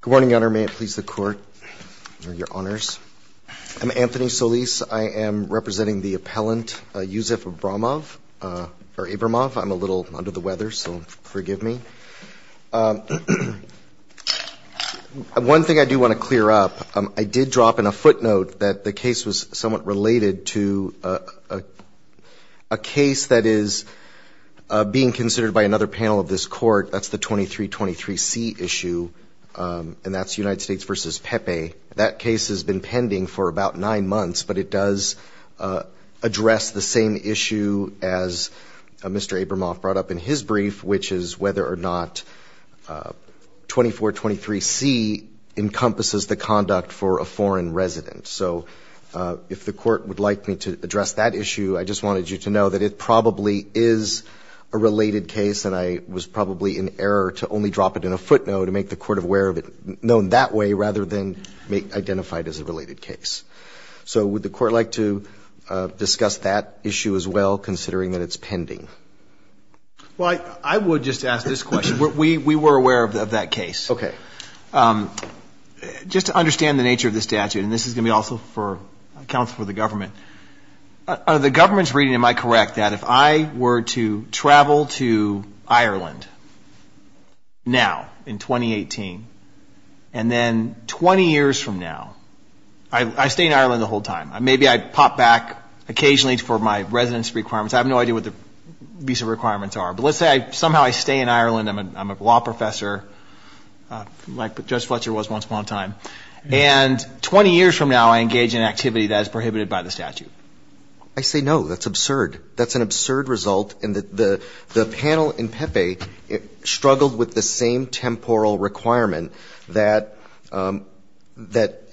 Good morning, Your Honor. May it please the Court, Your Honors. I'm Anthony Solis. I am representing the appellant Yuzef Abramov. I'm a little under the weather, so forgive me. One thing I do want to clear up, I did drop in a footnote that the case was somewhat related to a case that is being considered by another panel of this court. That's the 2323C issue, and that's United States v. Pepe. That case has been pending for about nine months, but it does address the same issue as Mr. Abramov brought up in his brief, which is whether or not 2423C encompasses the conduct for a foreign resident. So if the Court would like me to address that issue, I just wanted you to know that it probably is a related case, and I was probably in error to only drop it in a footnote to make the Court aware of it, known that way, rather than identify it as a related case. So would the Court like to discuss that issue as well, considering that it's pending? Well, I would just ask this question. We were aware of that case. Okay. Just to understand the nature of the statute, and this is going to be also for counsel for the government. Out of the government's reading, am I correct that if I were to travel to Ireland now in 2018, and then 20 years from now, I stay in Ireland the whole time. Maybe I pop back occasionally for my residence requirements. I have no idea what the visa requirements are, but let's say somehow I stay in Ireland. I'm a law professor, like Judge Fletcher was once upon a time, and 20 years from now, I engage in an activity that is prohibited by the statute. I say no. That's absurd. That's an absurd result, and the panel in Pepe struggled with the same temporal requirement that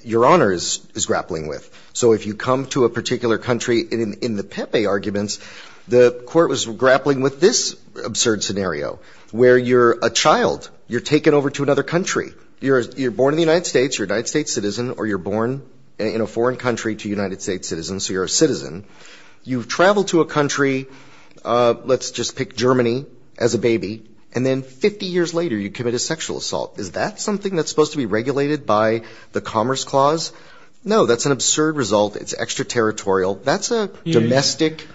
Your Honor is grappling with. So if you come to a particular country, in the Pepe arguments, the Court was grappling with this absurd scenario, where you're a child. You're taken over to another country. You're born in the United States. You're a United States citizen, or you're born in a foreign country to a United States citizen, so you're a citizen. You've traveled to a country, let's just pick Germany, as a baby, and then 50 years later, you commit a sexual assault. Is that something that's supposed to be regulated by the Commerce Clause? No. That's an absurd result. It's extraterritorial. That's a domestic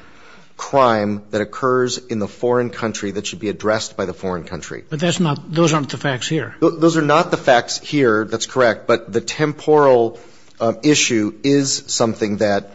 crime that occurs in the foreign country that should be addressed by the foreign country. But that's not — those aren't the facts here. Those are not the facts here. That's correct. But the temporal issue is something that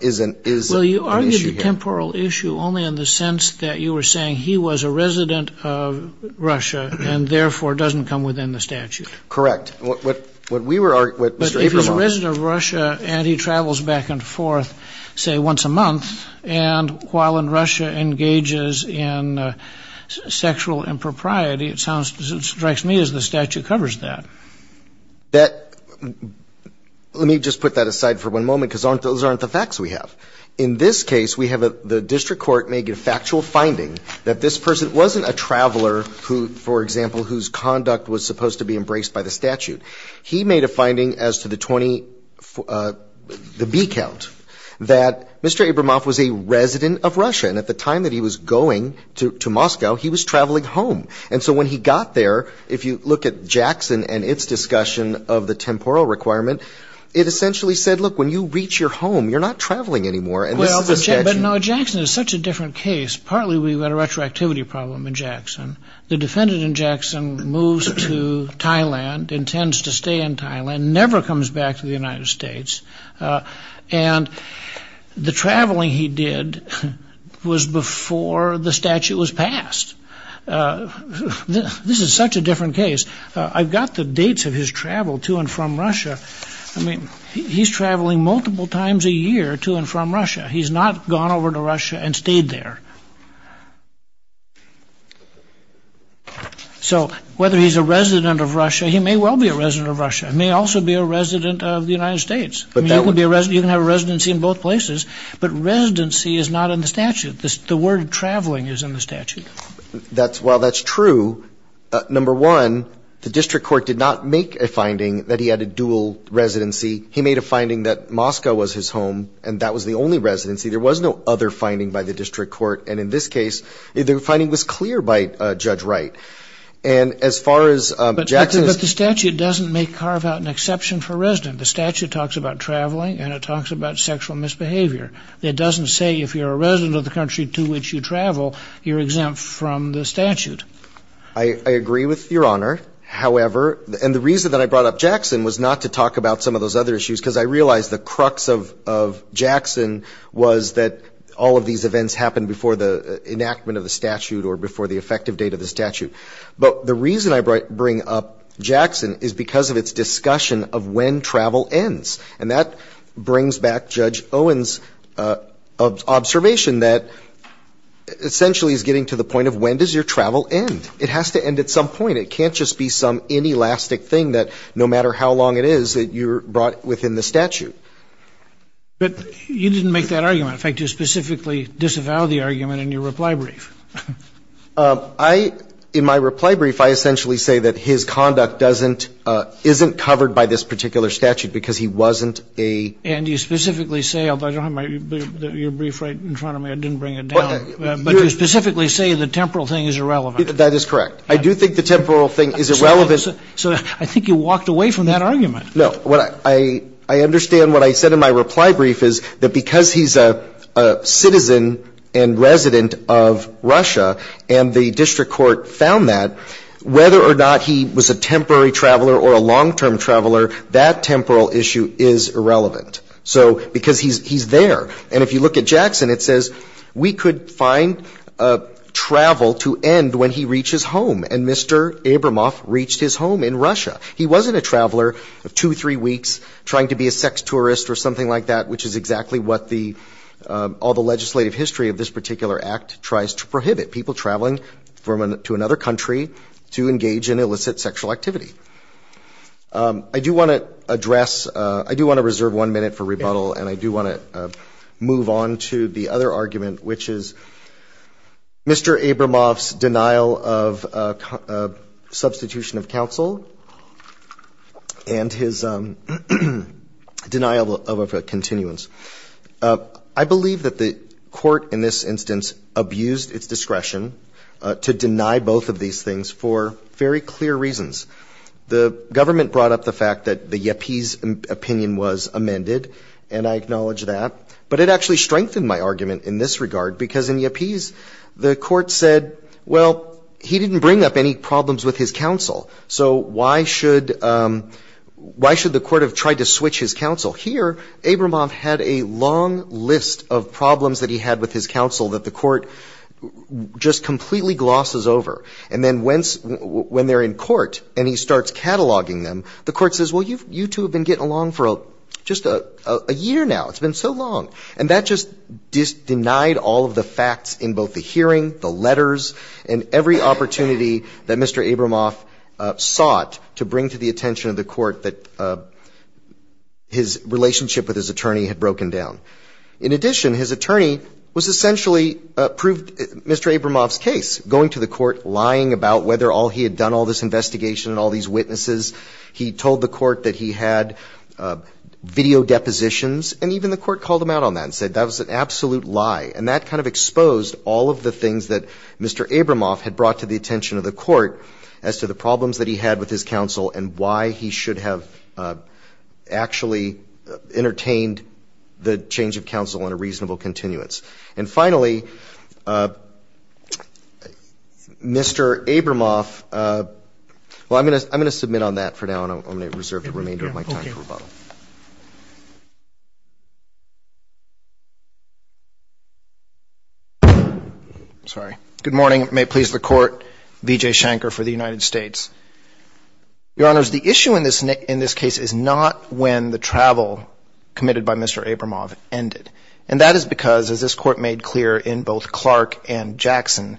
is an issue here. Well, you argue the temporal issue only in the sense that you were saying he was a resident of Russia and, therefore, doesn't come within the statute. Correct. But if he's a resident of Russia and he travels back and forth, say, once a month, and while in Russia engages in sexual impropriety, it strikes me as the statute covers that. Let me just put that aside for one moment because those aren't the facts we have. In this case, we have the district court make a factual finding that this person wasn't a traveler who, for example, whose conduct was supposed to be embraced by the statute. He made a finding as to the B count that Mr. Abramoff was a resident of Russia, and at the time that he was going to Moscow, he was traveling home. And so when he got there, if you look at Jackson and its discussion of the temporal requirement, it essentially said, look, when you reach your home, you're not traveling anymore, and this is the statute. But, no, Jackson is such a different case. Partly we've got a retroactivity problem in Jackson. The defendant in Jackson moves to Thailand, intends to stay in Thailand, never comes back to the United States, and the traveling he did was before the statute was passed. This is such a different case. I've got the dates of his travel to and from Russia. I mean, he's traveling multiple times a year to and from Russia. He's not gone over to Russia and stayed there. So whether he's a resident of Russia, he may well be a resident of Russia. He may also be a resident of the United States. You can have a residency in both places, but residency is not in the statute. The word traveling is in the statute. Well, that's true. Number one, the district court did not make a finding that he had a dual residency. He made a finding that Moscow was his home, and that was the only residency. There was no other finding by the district court. And in this case, the finding was clear by Judge Wright. And as far as Jackson's ---- But the statute doesn't carve out an exception for resident. The statute talks about traveling, and it talks about sexual misbehavior. It doesn't say if you're a resident of the country to which you travel, you're exempt from the statute. I agree with Your Honor. However, and the reason that I brought up Jackson was not to talk about some of those other issues, because I realized the crux of Jackson was that all of these events happened before the enactment of the statute or before the effective date of the statute. But the reason I bring up Jackson is because of its discussion of when travel ends. And that brings back Judge Owen's observation that essentially he's getting to the point of when does your travel end. It has to end at some point. It can't just be some inelastic thing that no matter how long it is that you're brought within the statute. But you didn't make that argument. In fact, you specifically disavowed the argument in your reply brief. I ---- in my reply brief, I essentially say that his conduct doesn't ---- isn't covered by this particular statute because he wasn't a ---- And you specifically say, although I don't have my ---- your brief right in front of me, I didn't bring it down. But you specifically say the temporal thing is irrelevant. That is correct. I do think the temporal thing is irrelevant. So I think you walked away from that argument. No. I understand what I said in my reply brief is that because he's a citizen and resident of Russia and the district court found that, whether or not he was a temporary traveler or a long-term traveler, that temporal issue is irrelevant. So because he's there. And if you look at Jackson, it says we could find travel to end when he reaches home. And Mr. Abramoff reached his home in Russia. He wasn't a traveler of two, three weeks trying to be a sex tourist or something like that, which is exactly what the ---- all the legislative history of this particular act tries to prohibit, people traveling to another country to engage in illicit sexual activity. I do want to address ---- I do want to reserve one minute for rebuttal. And I do want to move on to the other argument, which is Mr. Abramoff's denial of substitution of counsel and his denial of a continuance. I believe that the court in this instance abused its discretion to deny both of these things for very clear reasons. The government brought up the fact that the Yappe's opinion was amended, and I acknowledge that. But it actually strengthened my argument in this regard, because in Yappe's, the court said, well, he didn't bring up any problems with his counsel. So why should the court have tried to switch his counsel? Here, Abramoff had a long list of problems that he had with his counsel that the court just completely glosses over. And then when they're in court and he starts cataloging them, the court says, well, you two have been getting along for just a year now. It's been so long. And that just denied all of the facts in both the hearing, the letters, and every opportunity that Mr. Abramoff sought to bring to the attention of the court that his relationship with his attorney had broken down. In addition, his attorney was essentially proved Mr. Abramoff's case, going to the court, lying about whether he had done all this investigation and all these witnesses. He told the court that he had video depositions. And even the court called him out on that and said that was an absolute lie. And that kind of exposed all of the things that Mr. Abramoff had brought to the attention of the court as to the problems that he had with his counsel and why he should have actually entertained the change of counsel in a reasonable continuance. And finally, Mr. Abramoff, well, I'm going to submit on that for now, and I'm going to reserve the remainder of my time for rebuttal. Okay. Sorry. Good morning. May it please the Court. V.J. Shanker for the United States. Your Honors, the issue in this case is not when the travel committed by Mr. Abramoff ended. And that is because, as this Court made clear in both Clark and Jackson,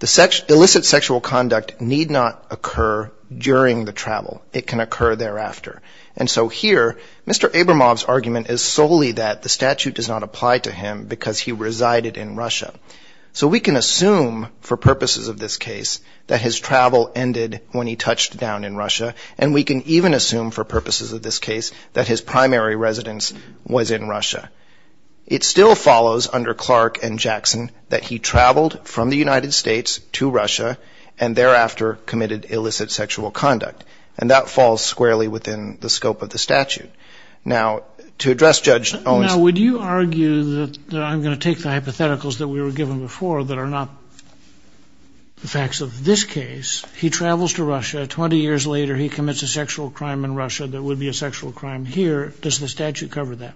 the illicit sexual conduct need not occur during the travel. It can occur thereafter. And so here, Mr. Abramoff's argument is solely that the statute does not apply to him because he resided in Russia. So we can assume, for purposes of this case, that his travel ended when he touched down in Russia. And we can even assume, for purposes of this case, that his primary residence was in Russia. It still follows, under Clark and Jackson, that he traveled from the United States to Russia and thereafter committed illicit sexual conduct. And that falls squarely within the scope of the statute. Now, to address Judge Owens ---- Now, would you argue that I'm going to take the hypotheticals that we were given before that are not the facts of this case. He travels to Russia. Twenty years later, he commits a sexual crime in Russia that would be a sexual crime here. Does the statute cover that?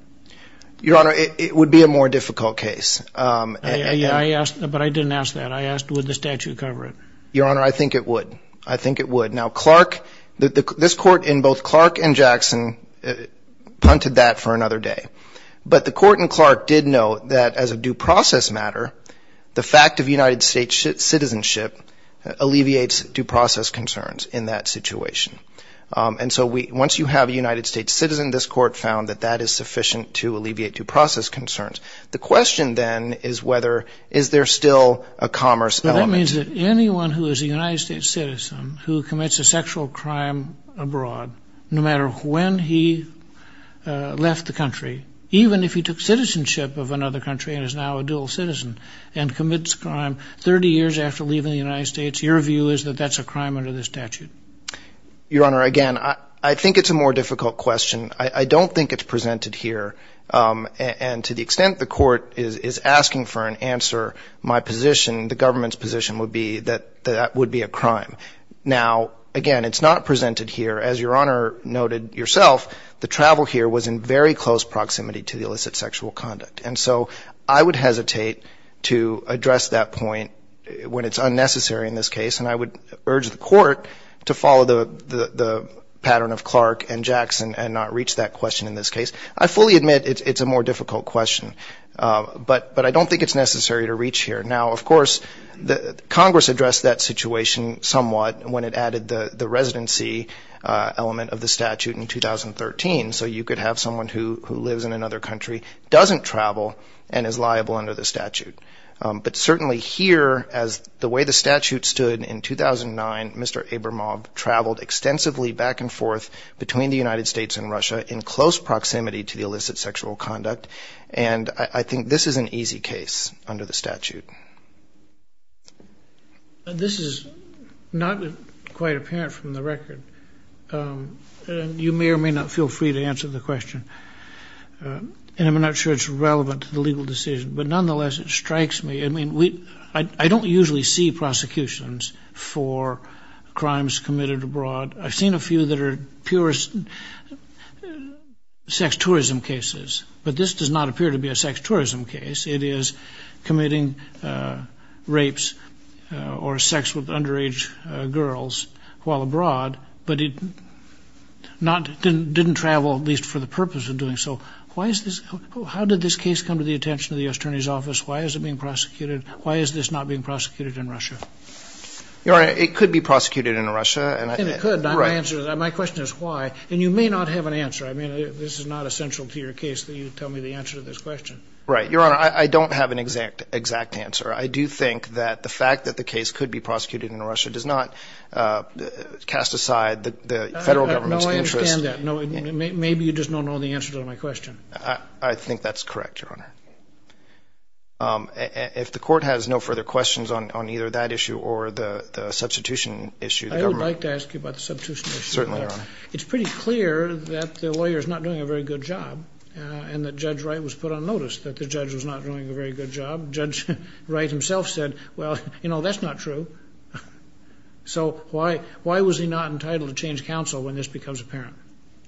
Your Honor, it would be a more difficult case. But I didn't ask that. I asked, would the statute cover it? Your Honor, I think it would. I think it would. Now, Clark, this Court in both Clark and Jackson punted that for another day. But the Court in Clark did note that as a due process matter, the fact of United States citizenship alleviates due process concerns in that situation. And so once you have a United States citizen, this Court found that that is sufficient to alleviate due process concerns. The question then is whether, is there still a commerce element? That means that anyone who is a United States citizen who commits a sexual crime abroad, no matter when he left the country, even if he took citizenship of another country and is now a dual citizen and commits a crime 30 years after leaving the United States, your view is that that's a crime under the statute? Your Honor, again, I think it's a more difficult question. I don't think it's presented here. And to the extent the Court is asking for an answer, my position, the government's position would be that that would be a crime. Now, again, it's not presented here. As Your Honor noted yourself, the travel here was in very close proximity to the illicit sexual conduct. And so I would hesitate to address that point when it's unnecessary in this case, and I would urge the Court to follow the pattern of Clark and Jackson and not reach that question in this case. I fully admit it's a more difficult question, but I don't think it's necessary to reach here. Now, of course, Congress addressed that situation somewhat when it added the residency element of the statute in 2013, so you could have someone who lives in another country, doesn't travel, and is liable under the statute. But certainly here, as the way the statute stood in 2009, Mr. Abramov traveled extensively back and forth between the United States and Russia in close proximity to the illicit sexual conduct, and I think this is an easy case under the statute. This is not quite apparent from the record. You may or may not feel free to answer the question, and I'm not sure it's relevant to the legal decision. But nonetheless, it strikes me. I mean, I don't usually see prosecutions for crimes committed abroad. I've seen a few that are pure sex tourism cases, but this does not appear to be a sex tourism case. It is committing rapes or sex with underage girls while abroad, but it didn't travel, at least for the purpose of doing so. How did this case come to the attention of the U.S. Attorney's Office? Why is it being prosecuted? Why is this not being prosecuted in Russia? Your Honor, it could be prosecuted in Russia. And it could. My question is why, and you may not have an answer. I mean, this is not essential to your case that you tell me the answer to this question. Right. Your Honor, I don't have an exact answer. I do think that the fact that the case could be prosecuted in Russia does not cast aside the federal government's interest. No, I understand that. Maybe you just don't know the answer to my question. I think that's correct, Your Honor. If the Court has no further questions on either that issue or the substitution issue, the government. I would like to ask you about the substitution issue. Certainly, Your Honor. It's pretty clear that the lawyer is not doing a very good job and that Judge Wright was put on notice that the judge was not doing a very good job. Judge Wright himself said, well, you know, that's not true. So why was he not entitled to change counsel when this becomes apparent?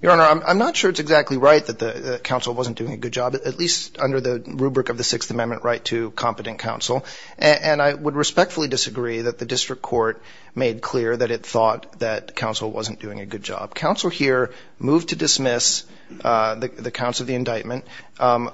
Your Honor, I'm not sure it's exactly right that the counsel wasn't doing a good job, at least under the rubric of the Sixth Amendment right to competent counsel. And I would respectfully disagree that the district court made clear that it thought that counsel wasn't doing a good job. Counsel here moved to dismiss the counsel of the indictment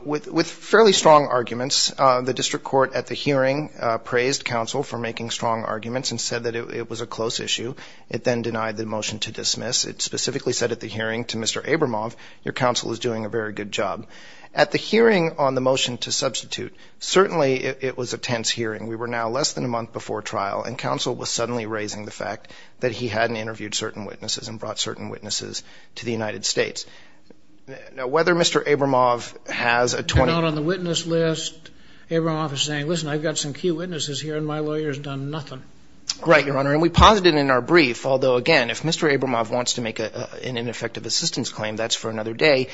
with fairly strong arguments. The district court at the hearing praised counsel for making strong arguments and said that it was a close issue. It then denied the motion to dismiss. It specifically said at the hearing to Mr. Abramoff, your counsel is doing a very good job. At the hearing on the motion to substitute, certainly it was a tense hearing. We were now less than a month before trial, and counsel was suddenly raising the fact that he hadn't interviewed certain witnesses and brought certain witnesses to the United States. Now, whether Mr. Abramoff has a 20- You're not on the witness list. Abramoff is saying, listen, I've got some key witnesses here, and my lawyer has done nothing. Right, your Honor. And we posited in our brief, although, again, if Mr. Abramoff wants to make an ineffective assistance claim, that's for another day.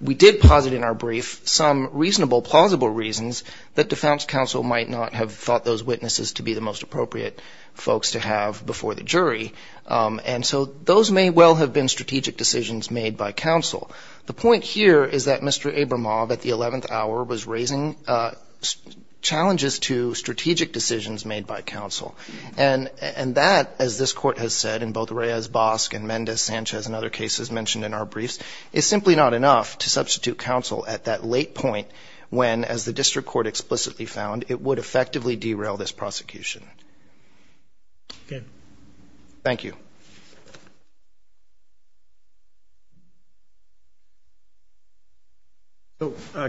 We did posit in our brief some reasonable, plausible reasons that defense counsel might not have thought those witnesses to be the most appropriate folks to have before the jury. And so those may well have been strategic decisions made by counsel. The point here is that Mr. Abramoff at the 11th hour was raising challenges to strategic decisions made by counsel. And that, as this Court has said in both Reyes-Bosk and Mendes-Sanchez and other cases mentioned in our briefs, is simply not enough to substitute counsel at that late point when, as the district court explicitly found, it would effectively derail this prosecution. Okay. Thank you.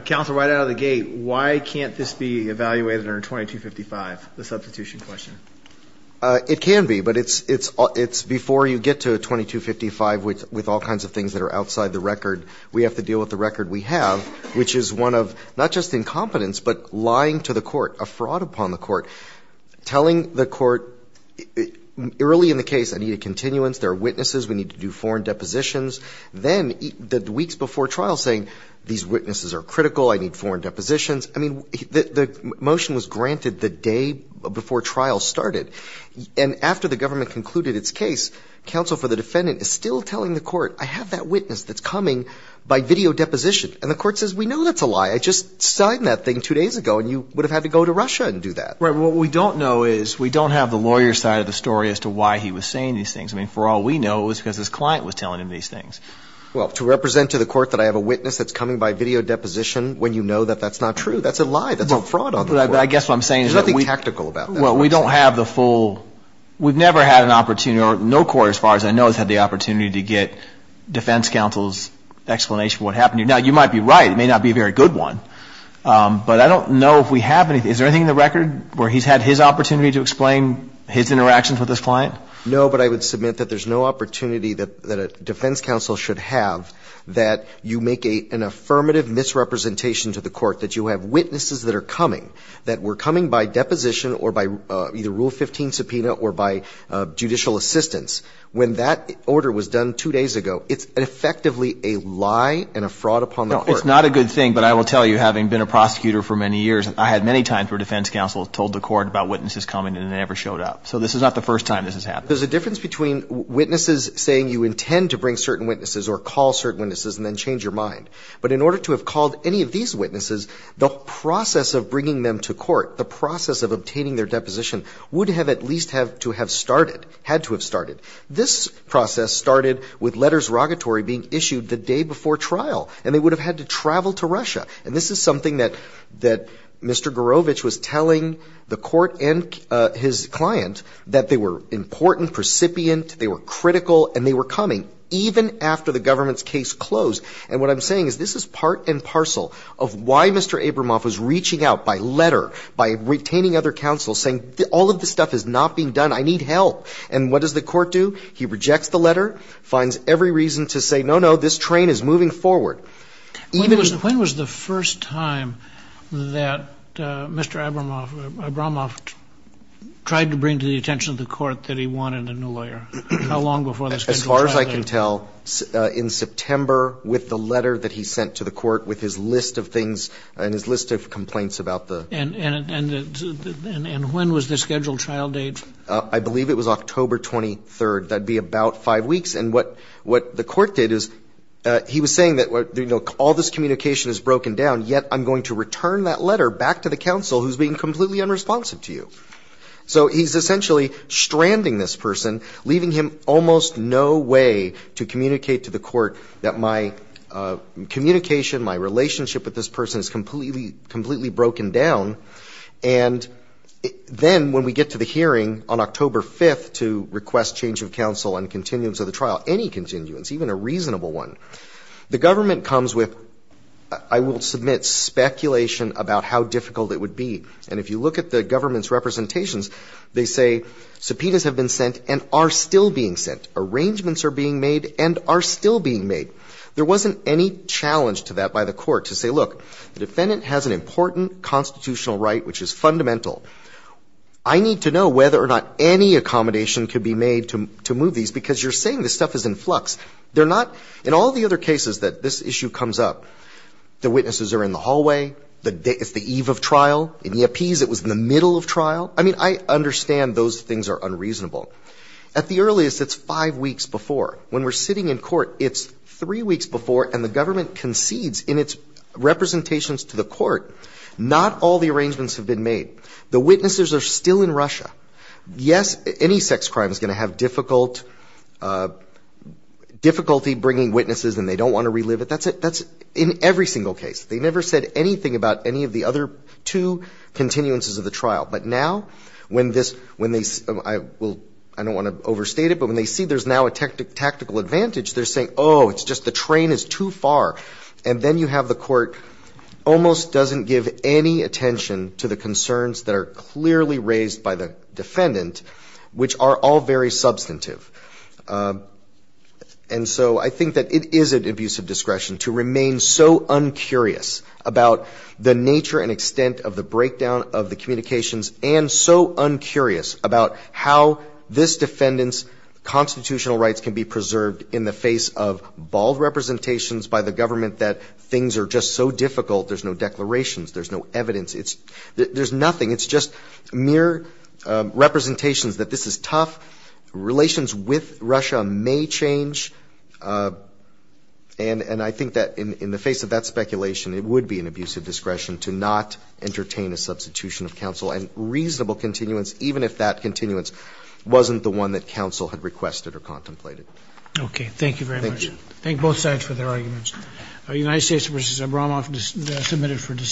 Counsel, right out of the gate, why can't this be evaluated under 2255, the substitution question? It can be. But it's before you get to 2255 with all kinds of things that are outside the record, we have to deal with the record we have, which is one of not just incompetence, but lying to the court, a fraud upon the court. Telling the court early in the case, I need a continuance, there are witnesses, we need to do foreign depositions. Then the weeks before trial saying, these witnesses are critical, I need foreign depositions. I mean, the motion was granted the day before trial started. And after the government concluded its case, counsel for the defendant is still telling the court, I have that witness that's coming by video deposition. And the court says, we know that's a lie. I just signed that thing two days ago, and you would have had to go to Russia and do that. Right. What we don't know is, we don't have the lawyer's side of the story as to why he was saying these things. I mean, for all we know, it was because his client was telling him these things. Well, to represent to the court that I have a witness that's coming by video deposition, when you know that that's not true, that's a lie, that's a fraud on the court. I guess what I'm saying is that we don't have the full, we've never had an opportunity or no court as far as I know has had the opportunity to get defense counsel's explanation for what happened. Now, you might be right. It may not be a very good one. But I don't know if we have anything. Is there anything in the record where he's had his opportunity to explain his interactions with his client? No, but I would submit that there's no opportunity that a defense counsel should have that you make an affirmative misrepresentation to the court that you have witnesses that are coming, that were coming by deposition or by either Rule 15 subpoena or by judicial assistance. When that order was done two days ago, it's effectively a lie and a fraud upon the court. No, it's not a good thing. But I will tell you, having been a prosecutor for many years, I had many times where defense counsel told the court about witnesses coming and it never showed up. So this is not the first time this has happened. There's a difference between witnesses saying you intend to bring certain witnesses or call certain witnesses and then change your mind. But in order to have called any of these witnesses, the process of bringing them to court, the process of obtaining their deposition would have at least had to have started, had to have started. This process started with letters rogatory being issued the day before trial. And they would have had to travel to Russia. And this is something that Mr. Garovitch was telling the court and his client, that they were important, precipient, they were critical, and they were coming even after the government's case closed. And what I'm saying is this is part and parcel of why Mr. Abramoff was reaching out by letter, by retaining other counsel, saying all of this stuff is not being done, I need help. And what does the court do? He rejects the letter, finds every reason to say, no, no, this train is moving forward. Even the ---- When was the first time that Mr. Abramoff tried to bring to the attention of the court that he wanted a new lawyer? How long before the scheduled trial date? As far as I can tell, in September, with the letter that he sent to the court, with his list of things and his list of complaints about the ---- And when was the scheduled trial date? I believe it was October 23rd. That would be about five weeks. And what the court did is he was saying that, you know, all this communication is broken down, yet I'm going to return that letter back to the counsel who's being completely unresponsive to you. So he's essentially stranding this person, leaving him almost no way to communicate to the court that my communication, my relationship with this person is completely broken down. And then when we get to the hearing on October 5th to request change of counsel on continuance of the trial, any continuance, even a reasonable one, the government comes with, I will submit, speculation about how difficult it would be. And if you look at the government's representations, they say subpoenas have been sent and are still being sent. Arrangements are being made and are still being made. There wasn't any challenge to that by the court to say, look, the defendant has an important constitutional right which is fundamental. I need to know whether or not any accommodation could be made to move these, because you're saying this stuff is in flux. They're not. In all the other cases that this issue comes up, the witnesses are in the hallway. It's the eve of trial. In the appease, it was in the middle of trial. I mean, I understand those things are unreasonable. At the earliest, it's five weeks before. When we're sitting in court, it's three weeks before, and the government concedes in its representations to the court, not all the arrangements have been made. The witnesses are still in Russia. Yes, any sex crime is going to have difficult, difficulty bringing witnesses and they don't want to relive it. That's it. That's in every single case. They never said anything about any of the other two continuances of the trial. But now, when this, when they, I will, I don't want to overstate it, but when they see there's now a tactical advantage, they're saying, oh, it's just the train is too far. And then you have the court almost doesn't give any attention to the concerns that are clearly raised by the defendant, which are all very substantive. And so I think that it is an abuse of discretion to remain so uncurious about the nature and extent of the breakdown of the communications and so uncurious about how this defendant's constitutional rights can be preserved in the face of bald government that things are just so difficult. There's no declarations. There's no evidence. There's nothing. It's just mere representations that this is tough. Relations with Russia may change. And I think that in the face of that speculation, it would be an abuse of discretion to not entertain a substitution of counsel and reasonable continuance, even if that continuance wasn't the one that counsel had requested or contemplated. Okay. Thank you very much. Thank both sides for their arguments.